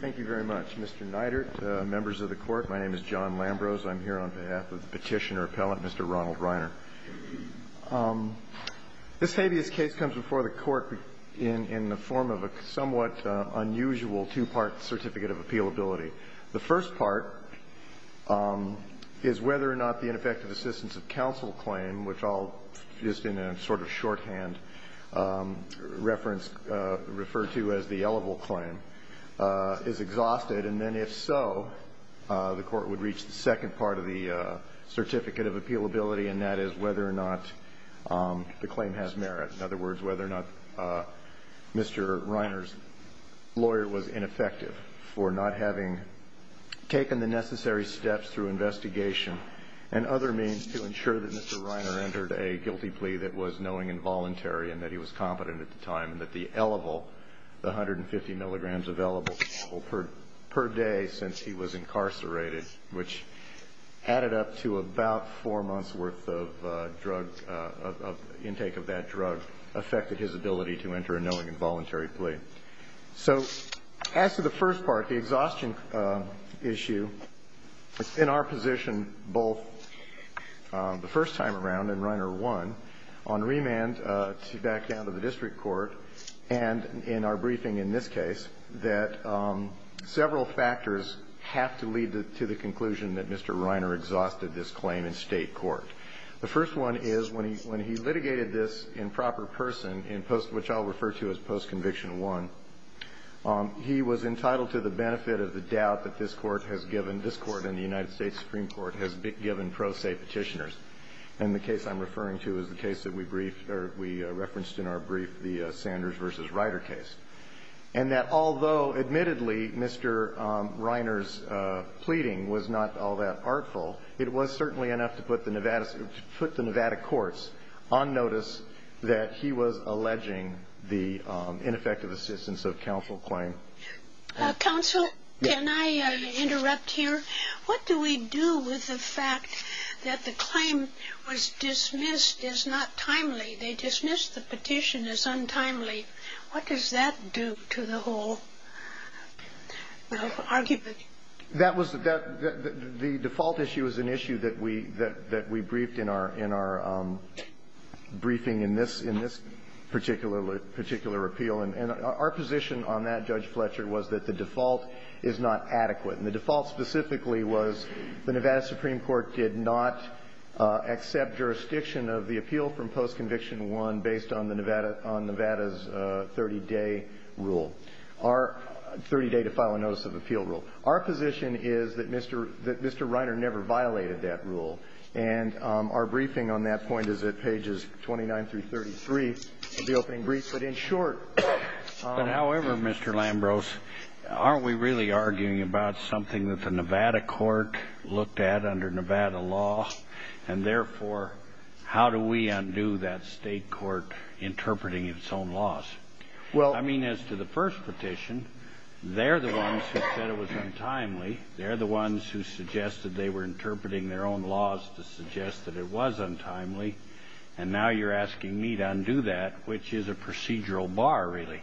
Thank you very much. Mr. Neidert, members of the Court, my name is John Lambrose. I'm here on behalf of the Petitioner Appellant, Mr. Ronald Riner. This habeas case comes before the Court in the form of a somewhat unusual two-part certificate of appealability. The first part is whether or not the ineffective assistance of counsel claim, which I'll just in a sort of shorthand reference refer to as the is exhausted, and then if so, the Court would reach the second part of the certificate of appealability, and that is whether or not the claim has merit. In other words, whether or not Mr. Riner's lawyer was ineffective for not having taken the necessary steps through investigation and other means to ensure that Mr. Riner entered a guilty plea that was knowing and voluntary and that he was competent at the time, that the L-level, the 150 milligrams of L-level per day since he was incarcerated, which added up to about four months' worth of drug, of intake of that drug, affected his ability to enter a knowing and voluntary plea. So as to the first part, the exhaustion issue, it's in our position both the first time around, and Riner won, on remand to back down to the district court and in our briefing in this case, that several factors have to lead to the conclusion that Mr. Riner exhausted this claim in State court. The first one is when he litigated this in proper person, which I'll refer to as post-conviction one, he was entitled to the benefit of the doubt that this Court has given, this Court and the United States Supreme Court has given pro se Petitioners. And the case I'm referring to is the case that we referenced in our brief, the Sanders v. Ryder case. And that although, admittedly, Mr. Riner's pleading was not all that artful, it was certainly enough to put the Nevada courts on notice that he was alleging the ineffective assistance of counsel claim. Counsel, can I interrupt here? What do we do with the fact that the claim was dismissed as not timely? They dismissed the petition as untimely. What does that do to the whole argument? That was the default issue is an issue that we briefed in our briefing in this particular appeal. And our position on that, Judge Fletcher, was that the default is not adequate. And the default specifically was the Nevada Supreme Court did not accept jurisdiction of the appeal from post-conviction one based on the Nevada's 30-day rule, our 30-day to file a notice of appeal rule. Our position is that Mr. Riner never violated that rule. And our briefing on that point is at pages 29 through 33 of the opening brief. But in short ---- But, however, Mr. Lambros, aren't we really arguing about something that the Nevada court looked at under Nevada law? And, therefore, how do we undo that State court interpreting its own laws? Well ---- I mean, as to the first petition, they're the ones who said it was untimely. They're the ones who suggested they were interpreting their own laws to suggest that it was untimely. And now you're asking me to undo that, which is a procedural bar, really.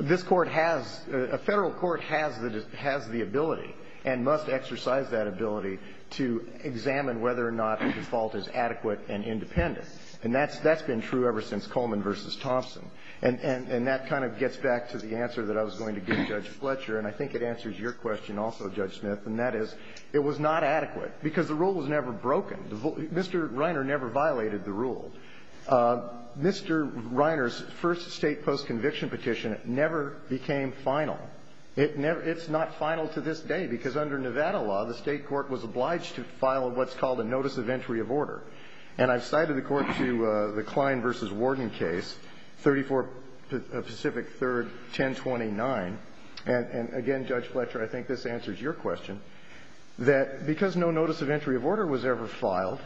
This Court has ---- a Federal court has the ability and must exercise that ability to examine whether or not the default is adequate and independent. And that's been true ever since Coleman v. Thompson. And that kind of gets back to the answer that I was going to give Judge Fletcher, and I think it answers your question also, Judge Smith, and that is it was not adequate because the rule was never broken. Mr. Riner never violated the rule. Mr. Riner's first State postconviction petition never became final. It never ---- it's not final to this day because under Nevada law, the State court was obliged to file what's called a notice of entry of order. And I've cited the court to the Klein v. Warden case, 34 Pacific 3rd, 1029. And, again, Judge Fletcher, I think this answers your question, that because no notice of entry of order was ever filed,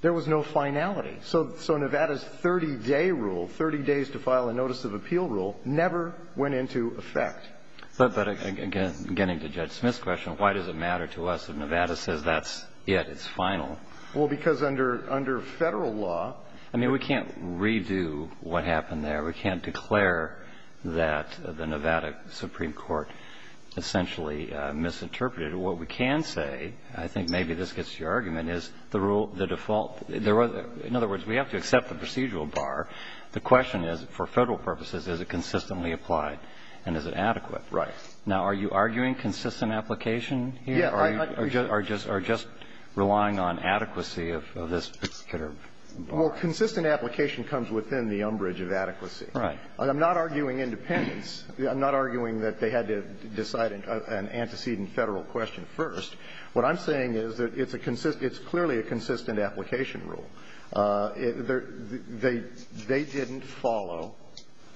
there was no finality. So Nevada's 30-day rule, 30 days to file a notice of appeal rule, never went into effect. But, again, getting to Judge Smith's question, why does it matter to us if Nevada says that's it, it's final? Well, because under Federal law ---- I mean, we can't redo what happened there. We can't declare that the Nevada Supreme Court essentially misinterpreted what we can say. I think maybe this gets to your argument, is the rule, the default. In other words, we have to accept the procedural bar. The question is, for Federal purposes, is it consistently applied and is it adequate? Right. Now, are you arguing consistent application here? Yeah. Or are you just relying on adequacy of this particular bar? Well, consistent application comes within the umbrage of adequacy. Right. I'm not arguing independence. I'm not arguing that they had to decide an antecedent Federal question first. What I'm saying is that it's clearly a consistent application rule. They didn't follow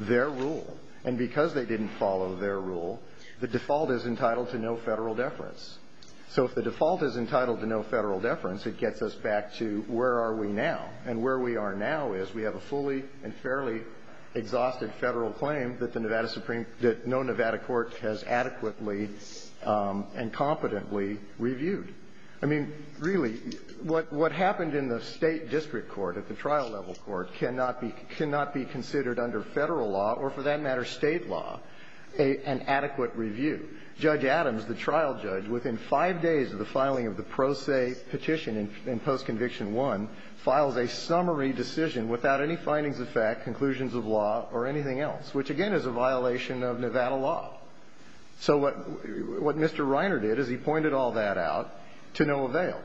their rule. And because they didn't follow their rule, the default is entitled to no Federal deference. So if the default is entitled to no Federal deference, it gets us back to where are we now. And where we are now is we have a fully and fairly exhausted Federal claim that no Nevada court has adequately and competently reviewed. I mean, really, what happened in the State district court, at the trial level court, cannot be considered under Federal law or, for that matter, State law an adequate review. Judge Adams, the trial judge, within five days of the filing of the pro se petition in Postconviction 1, files a summary decision without any findings of fact, conclusions of law, or anything else, which, again, is a violation of Nevada law. So what Mr. Reiner did is he pointed all that out to no avail.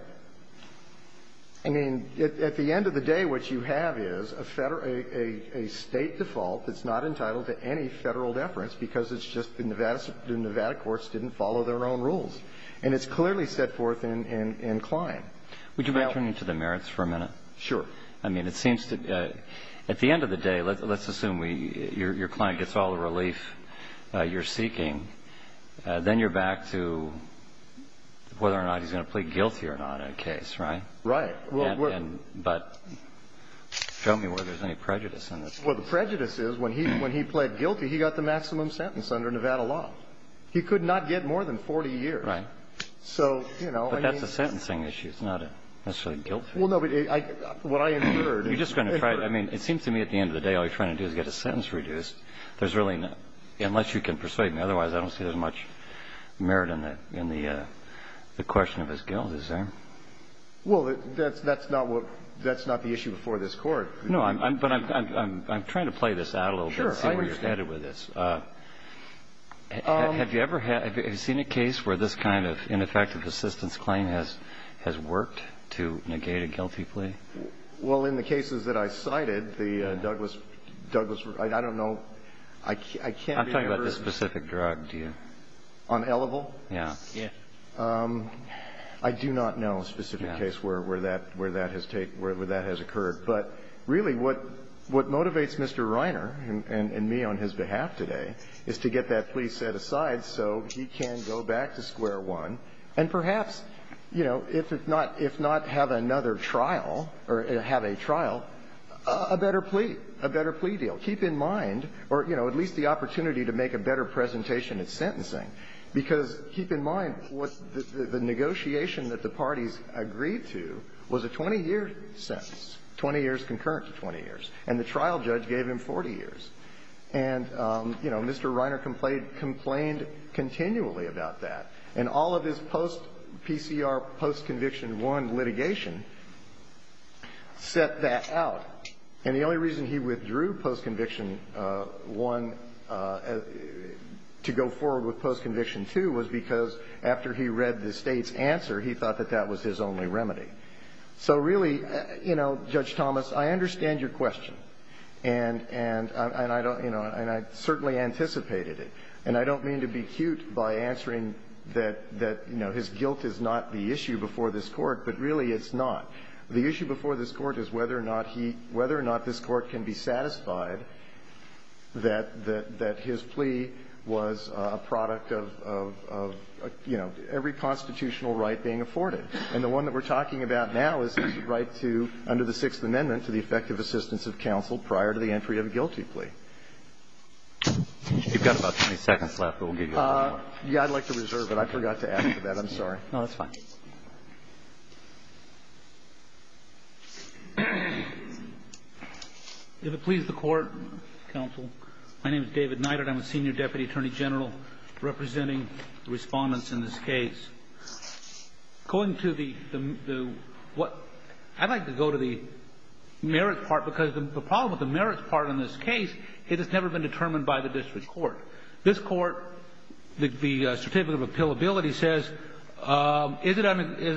I mean, at the end of the day, what you have is a State default that's not entitled to any Federal deference because it's just the Nevada courts didn't follow their own rules. And it's clearly set forth in Klein. Would you mind turning to the merits for a minute? Sure. I mean, it seems to be at the end of the day, let's assume your client gets all the relief you're seeking, then you're back to whether or not he's going to plead guilty or not in a case, right? Right. But show me whether there's any prejudice in this. Well, the prejudice is when he pled guilty, he got the maximum sentence under Nevada law. He could not get more than 40 years. Right. So, you know, I mean the sentence. But that's a sentencing issue. It's not necessarily a guilt fee. Well, no, but what I inferred. You're just going to try. I mean, it seems to me at the end of the day, all you're trying to do is get a sentence reduced. There's really not. Unless you can persuade me. Otherwise, I don't see there's much merit in the question of his guilt, is there? Well, that's not what the issue before this Court. No, but I'm trying to play this out a little bit and see where you're headed with this. Have you ever seen a case where this kind of ineffective assistance claim has worked to negate a guilty plea? Well, in the cases that I cited, the Douglas, I don't know. I can't remember. I'm talking about the specific drug. Do you? On Elevel? Yes. I do not know a specific case where that has occurred. But really what motivates Mr. Reiner and me on his behalf today is to get that plea set aside so he can go back to square one. And perhaps, you know, if not have another trial or have a trial, a better plea. A better plea deal. Keep in mind or, you know, at least the opportunity to make a better presentation at sentencing, because keep in mind what the negotiation that the parties agreed to was a 20-year sentence, 20 years concurrent to 20 years, and the trial judge gave him 40 years. And, you know, Mr. Reiner complained continually about that. And all of his post-PCR, post-conviction 1 litigation set that out. And the only reason he withdrew post-conviction 1 to go forward with post-conviction 2 was because after he read the State's answer, he thought that that was his only remedy. So really, you know, Judge Thomas, I understand your question. And I don't, you know, and I certainly anticipated it. And I don't mean to be cute by answering that, you know, his guilt is not the issue before this Court, but really it's not. The issue before this Court is whether or not he – whether or not this Court can be satisfied that his plea was a product of, you know, every constitutional right being afforded. And the one that we're talking about now is his right to, under the Sixth Amendment, to the effective assistance of counsel prior to the entry of a guilty plea. You've got about 20 seconds left, but we'll get going. Yeah, I'd like to reserve it. I forgot to ask for that. I'm sorry. No, that's fine. If it pleases the Court, counsel, my name is David Neidert. I'm a senior deputy attorney general representing the Respondents in this case. According to the – what – I'd like to go to the merits part, because the problem with the merits part in this case, it has never been determined by the district court. This Court, the Certificate of Appealability says,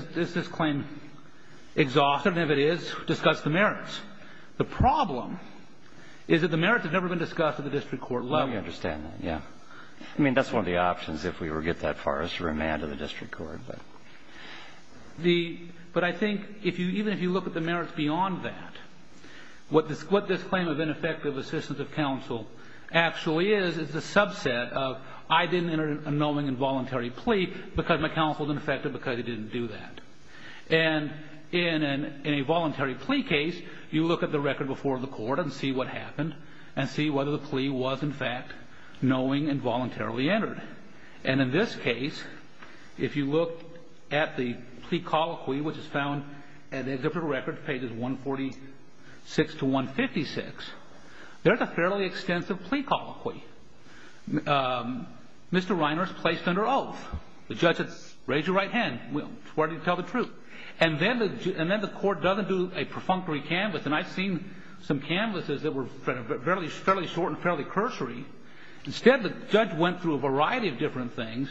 is this claim exhaustive? And if it is, discuss the merits. The problem is that the merits have never been discussed at the district court level. Well, we understand that, yeah. I mean, that's one of the options if we were to get that far as to remand to the district court. But I think if you – even if you look at the merits beyond that, what this claim of ineffective assistance of counsel actually is, it's a subset of I didn't enter a knowing and voluntary plea because my counsel is ineffective because he didn't do that. And in a voluntary plea case, you look at the record before the court and see what happened and see whether the plea was, in fact, knowing and voluntarily entered. And in this case, if you look at the plea colloquy, which is found in a different record, pages 146 to 156, there's a fairly extensive plea colloquy. Mr. Reiner is placed under oath. The judge says, raise your right hand. Where do you tell the truth? And then the court doesn't do a perfunctory canvas. And I've seen some canvases that were fairly short and fairly cursory. Instead, the judge went through a variety of different things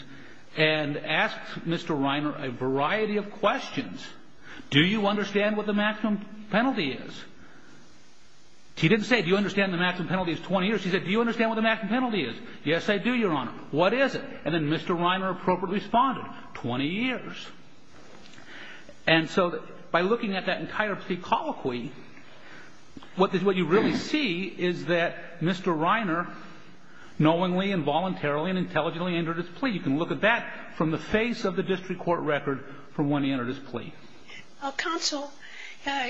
and asked Mr. Reiner a variety of questions. Do you understand what the maximum penalty is? He didn't say, do you understand the maximum penalty is 20 years? He said, do you understand what the maximum penalty is? Yes, I do, Your Honor. What is it? And then Mr. Reiner appropriately responded, 20 years. And so by looking at that entire plea colloquy, what you really see is that Mr. Reiner knowingly and voluntarily and intelligently entered his plea. Counsel,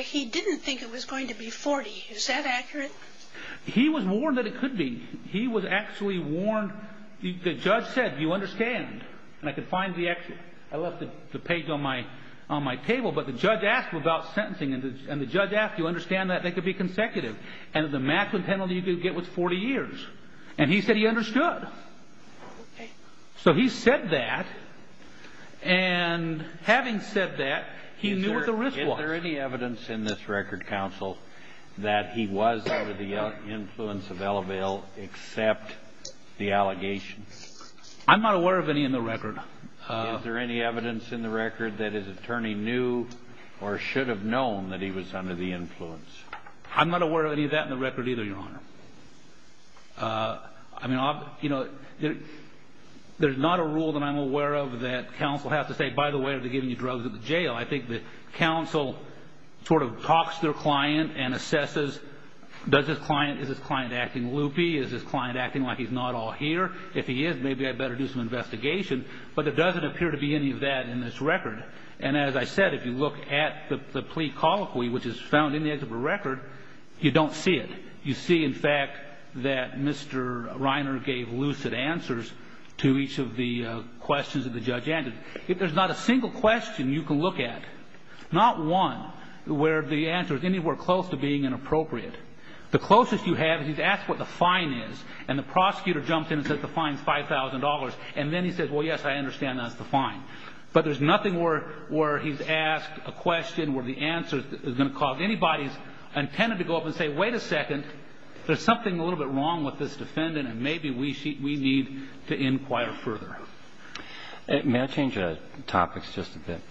he didn't think it was going to be 40. Is that accurate? He was warned that it could be. He was actually warned. The judge said, do you understand? And I could find the exit. I left the page on my table. But the judge asked without sentencing. And the judge asked, do you understand that they could be consecutive? And the maximum penalty you could get was 40 years. And he said he understood. So he said that. And having said that, he knew what the risk was. Is there any evidence in this record, Counsel, that he was under the influence of Eleville except the allegations? I'm not aware of any in the record. Is there any evidence in the record that his attorney knew or should have known that he was under the influence? I'm not aware of any of that in the record either, Your Honor. I mean, you know, there's not a rule that I'm aware of that Counsel has to say, by the way, are they giving you drugs at the jail? I think that Counsel sort of talks to their client and assesses, does this client, is this client acting loopy? Is this client acting like he's not all here? If he is, maybe I'd better do some investigation. But there doesn't appear to be any of that in this record. And as I said, if you look at the plea colloquy, which is found in the exhibit record, you don't see it. You see, in fact, that Mr. Reiner gave lucid answers to each of the questions that the judge answered. There's not a single question you can look at, not one where the answer is anywhere close to being inappropriate. The closest you have is he's asked what the fine is, and the prosecutor jumps in and says the fine is $5,000. And then he says, well, yes, I understand that's the fine. But there's nothing where he's asked a question where the answer is going to cause anybody's to go up and say, wait a second, there's something a little bit wrong with this defendant, and maybe we need to inquire further. May I change topics just a bit?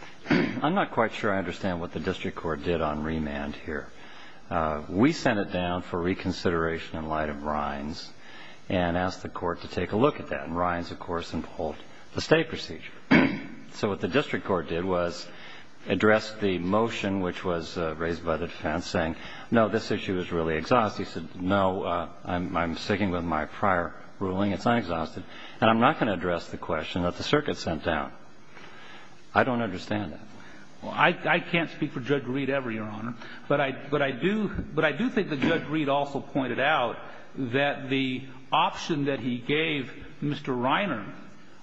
I'm not quite sure I understand what the district court did on remand here. We sent it down for reconsideration in light of Ryan's and asked the court to take a look at that, and Ryan's, of course, and pulled the state procedure. So what the district court did was address the motion, which was raised by the defense, saying, no, this issue is really exhaustive. He said, no, I'm sticking with my prior ruling. It's not exhaustive. And I'm not going to address the question that the circuit sent down. I don't understand that. Well, I can't speak for Judge Reed ever, Your Honor. But I do think that Judge Reed also pointed out that the option that he gave Mr. Reiner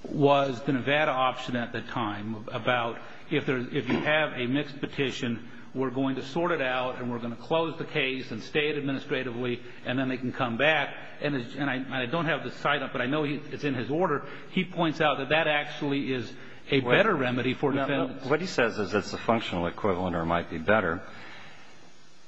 was the Nevada option at the time about if you have a mixed petition, we're going to sort it out and we're going to close the case and stay it administratively and then they can come back. And I don't have the sign-up, but I know it's in his order. He points out that that actually is a better remedy for defendants. What he says is it's a functional equivalent or might be better.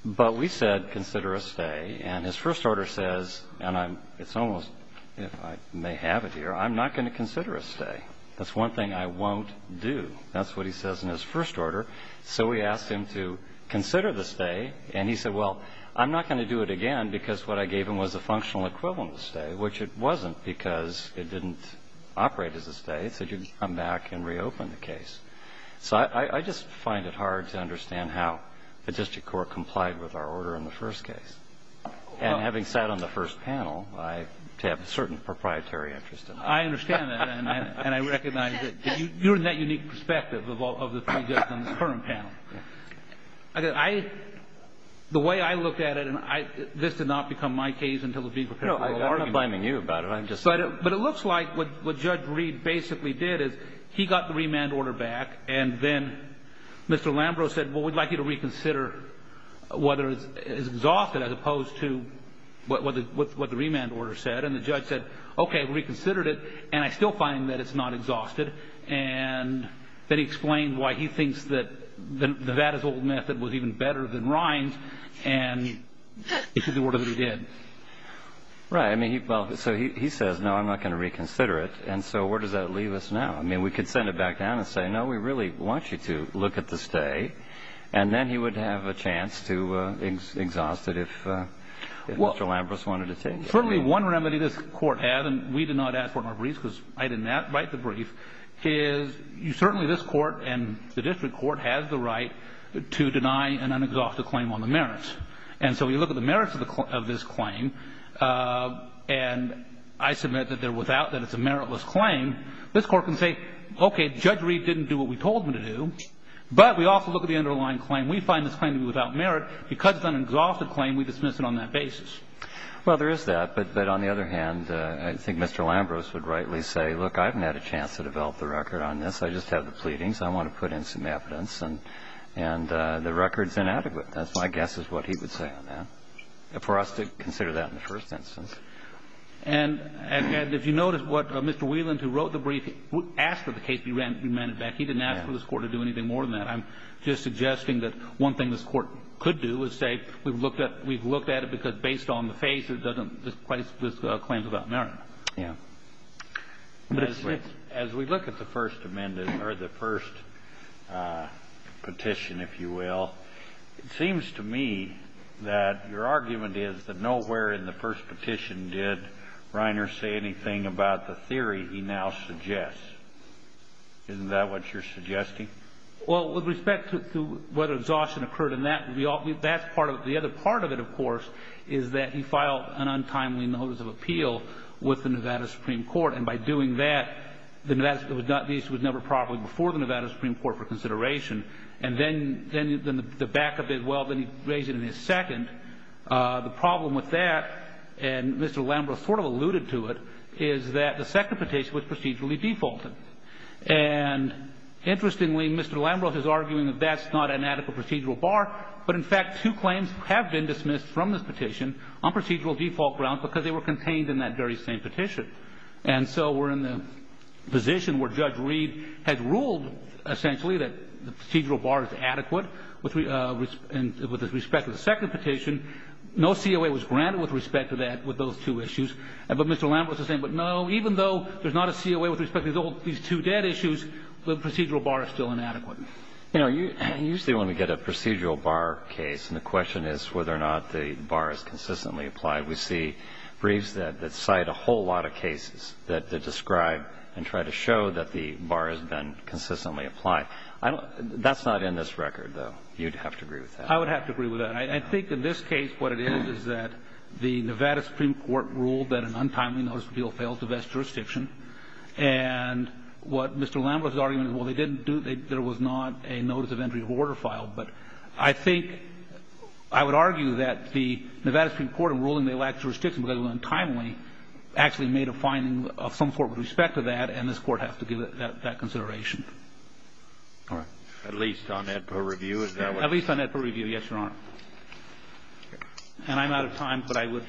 But we said consider a stay. And his first order says, and it's almost if I may have it here, I'm not going to consider a stay. That's one thing I won't do. That's what he says in his first order. So we asked him to consider the stay. And he said, well, I'm not going to do it again because what I gave him was a functional equivalent stay, which it wasn't because it didn't operate as a stay. It said you'd come back and reopen the case. So I just find it hard to understand how the district court complied with our order in the first case. And having sat on the first panel, I have a certain proprietary interest in that. I understand that. And I recognize that. You're in that unique perspective of the three judges on the current panel. The way I look at it, and this did not become my case until it was being prepared for the law. No, I'm not blaming you about it. I'm just saying. But it looks like what Judge Reed basically did is he got the remand order back, and then Mr. Lambrow said, well, we'd like you to reconsider whether it's exhausted as opposed to what the remand order said. And the judge said, okay, reconsidered it. And I still find that it's not exhausted. And then he explained why he thinks that the Vada's old method was even better than Ryan's, and it's the order that he did. Right. So he says, no, I'm not going to reconsider it. And so where does that leave us now? I mean, we could send it back down and say, no, we really want you to look at the stay. And then he would have a chance to exhaust it if Mr. Lambrow wanted to take it. Well, certainly one remedy this Court had, and we did not ask for it in our briefs because I did not write the brief, is certainly this Court and the district court has the right to deny an unexhausted claim on the merits. And so we look at the merits of this claim, and I submit that it's a meritless claim. This Court can say, okay, Judge Reed didn't do what we told him to do, but we also look at the underlying claim. We find this claim to be without merit. Because it's an unexhausted claim, we dismiss it on that basis. Well, there is that. But on the other hand, I think Mr. Lambrow's would rightly say, look, I haven't had a chance to develop the record on this. I just have the pleadings. I want to put in some evidence. And the record's inadequate. That's my guess is what he would say on that, for us to consider that in the first instance. And if you notice what Mr. Whelan, who wrote the brief, asked for the case to be remanded back, he didn't ask for this Court to do anything more than that. I'm just suggesting that one thing this Court could do is say we've looked at it because it's based on the face. This claims without merit. Yeah. As we look at the first petition, if you will, it seems to me that your argument is that nowhere in the first petition did Reiner say anything about the theory he now suggests. Isn't that what you're suggesting? Well, with respect to whether exhaustion occurred in that, that's part of it. The other part of it, of course, is that he filed an untimely notice of appeal with the Nevada Supreme Court. And by doing that, the Nevada Supreme Court was never properly before the Nevada Supreme Court for consideration. And then the back of it, well, then he raised it in his second. The problem with that, and Mr. Lambroth sort of alluded to it, is that the second petition was procedurally defaulted. And interestingly, Mr. Lambroth is arguing that that's not an adequate procedural bar, but in fact, two claims have been dismissed from this petition on procedural default grounds because they were contained in that very same petition. And so we're in the position where Judge Reed has ruled essentially that the procedural bar is adequate with respect to the second petition. No COA was granted with respect to that, with those two issues. But Mr. Lambroth is saying, but no, even though there's not a COA with respect to these two dead issues, the procedural bar is still inadequate. You know, usually when we get a procedural bar case and the question is whether or not the bar is consistently applied, we see briefs that cite a whole lot of cases that describe and try to show that the bar has been consistently applied. That's not in this record, though. You'd have to agree with that. I would have to agree with that. I think in this case what it is is that the Nevada Supreme Court ruled that an untimely notice appeal failed to vest jurisdiction. And what Mr. Lambroth's argument is, well, they didn't do the – there was not a notice of entry of order filed. But I think – I would argue that the Nevada Supreme Court in ruling they lacked jurisdiction because it was untimely actually made a finding of some sort with respect to that, and this Court has to give that consideration. Kennedy. At least on that per review, is that what you're saying? At least on that per review, yes, Your Honor. And I'm out of time, but I would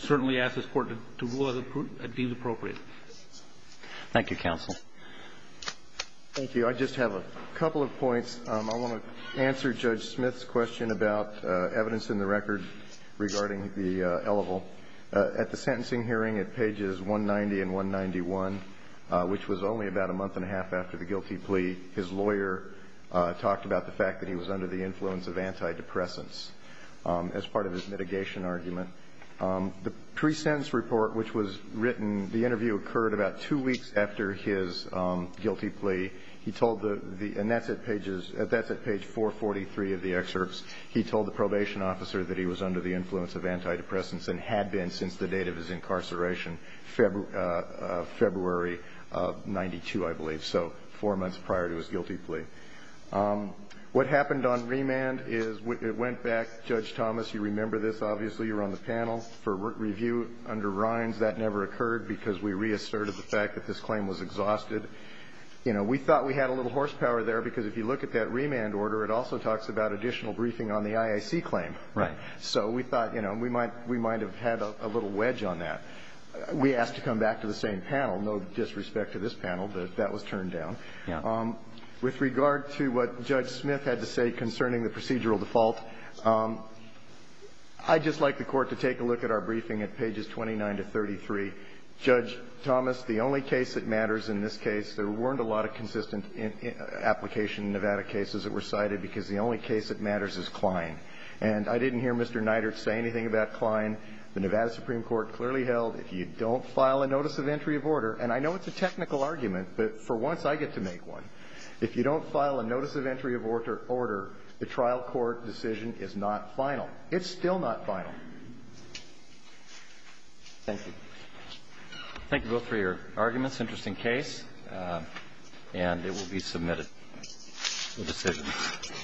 certainly ask this Court to rule as it deems appropriate. Thank you, counsel. Thank you. I just have a couple of points. I want to answer Judge Smith's question about evidence in the record regarding the eligible. At the sentencing hearing at pages 190 and 191, which was only about a month and a half after the guilty plea, his lawyer talked about the fact that he was under the influence of antidepressants as part of his mitigation argument. The pre-sentence report, which was written – the interview occurred about two weeks after his guilty plea. He told the – and that's at pages – that's at page 443 of the excerpts. He told the probation officer that he was under the influence of antidepressants and had been since the date of his incarceration, February of 92, I believe, so four months prior to his guilty plea. What happened on remand is – it went back – Judge Thomas, you remember this, obviously, you were on the panel for review under Rhines. That never occurred because we reasserted the fact that this claim was exhausted. You know, we thought we had a little horsepower there because if you look at that remand order, it also talks about additional briefing on the IAC claim. Right. So we thought, you know, we might – we might have had a little wedge on that. We asked to come back to the same panel. No disrespect to this panel, but that was turned down. Yeah. With regard to what Judge Smith had to say concerning the procedural default, I'd just like the Court to take a look at our briefing at pages 29 to 33. Judge Thomas, the only case that matters in this case – there weren't a lot of consistent application in Nevada cases that were cited because the only case that matters is Klein. And I didn't hear Mr. Neidert say anything about Klein. The Nevada Supreme Court clearly held if you don't file a notice of entry of order – and I know it's a technical argument, but for once I get to make one – if you don't is not final. It's still not final. Thank you. Thank you both for your arguments. Interesting case. Thank you. Thank you. Thank you. Thank you.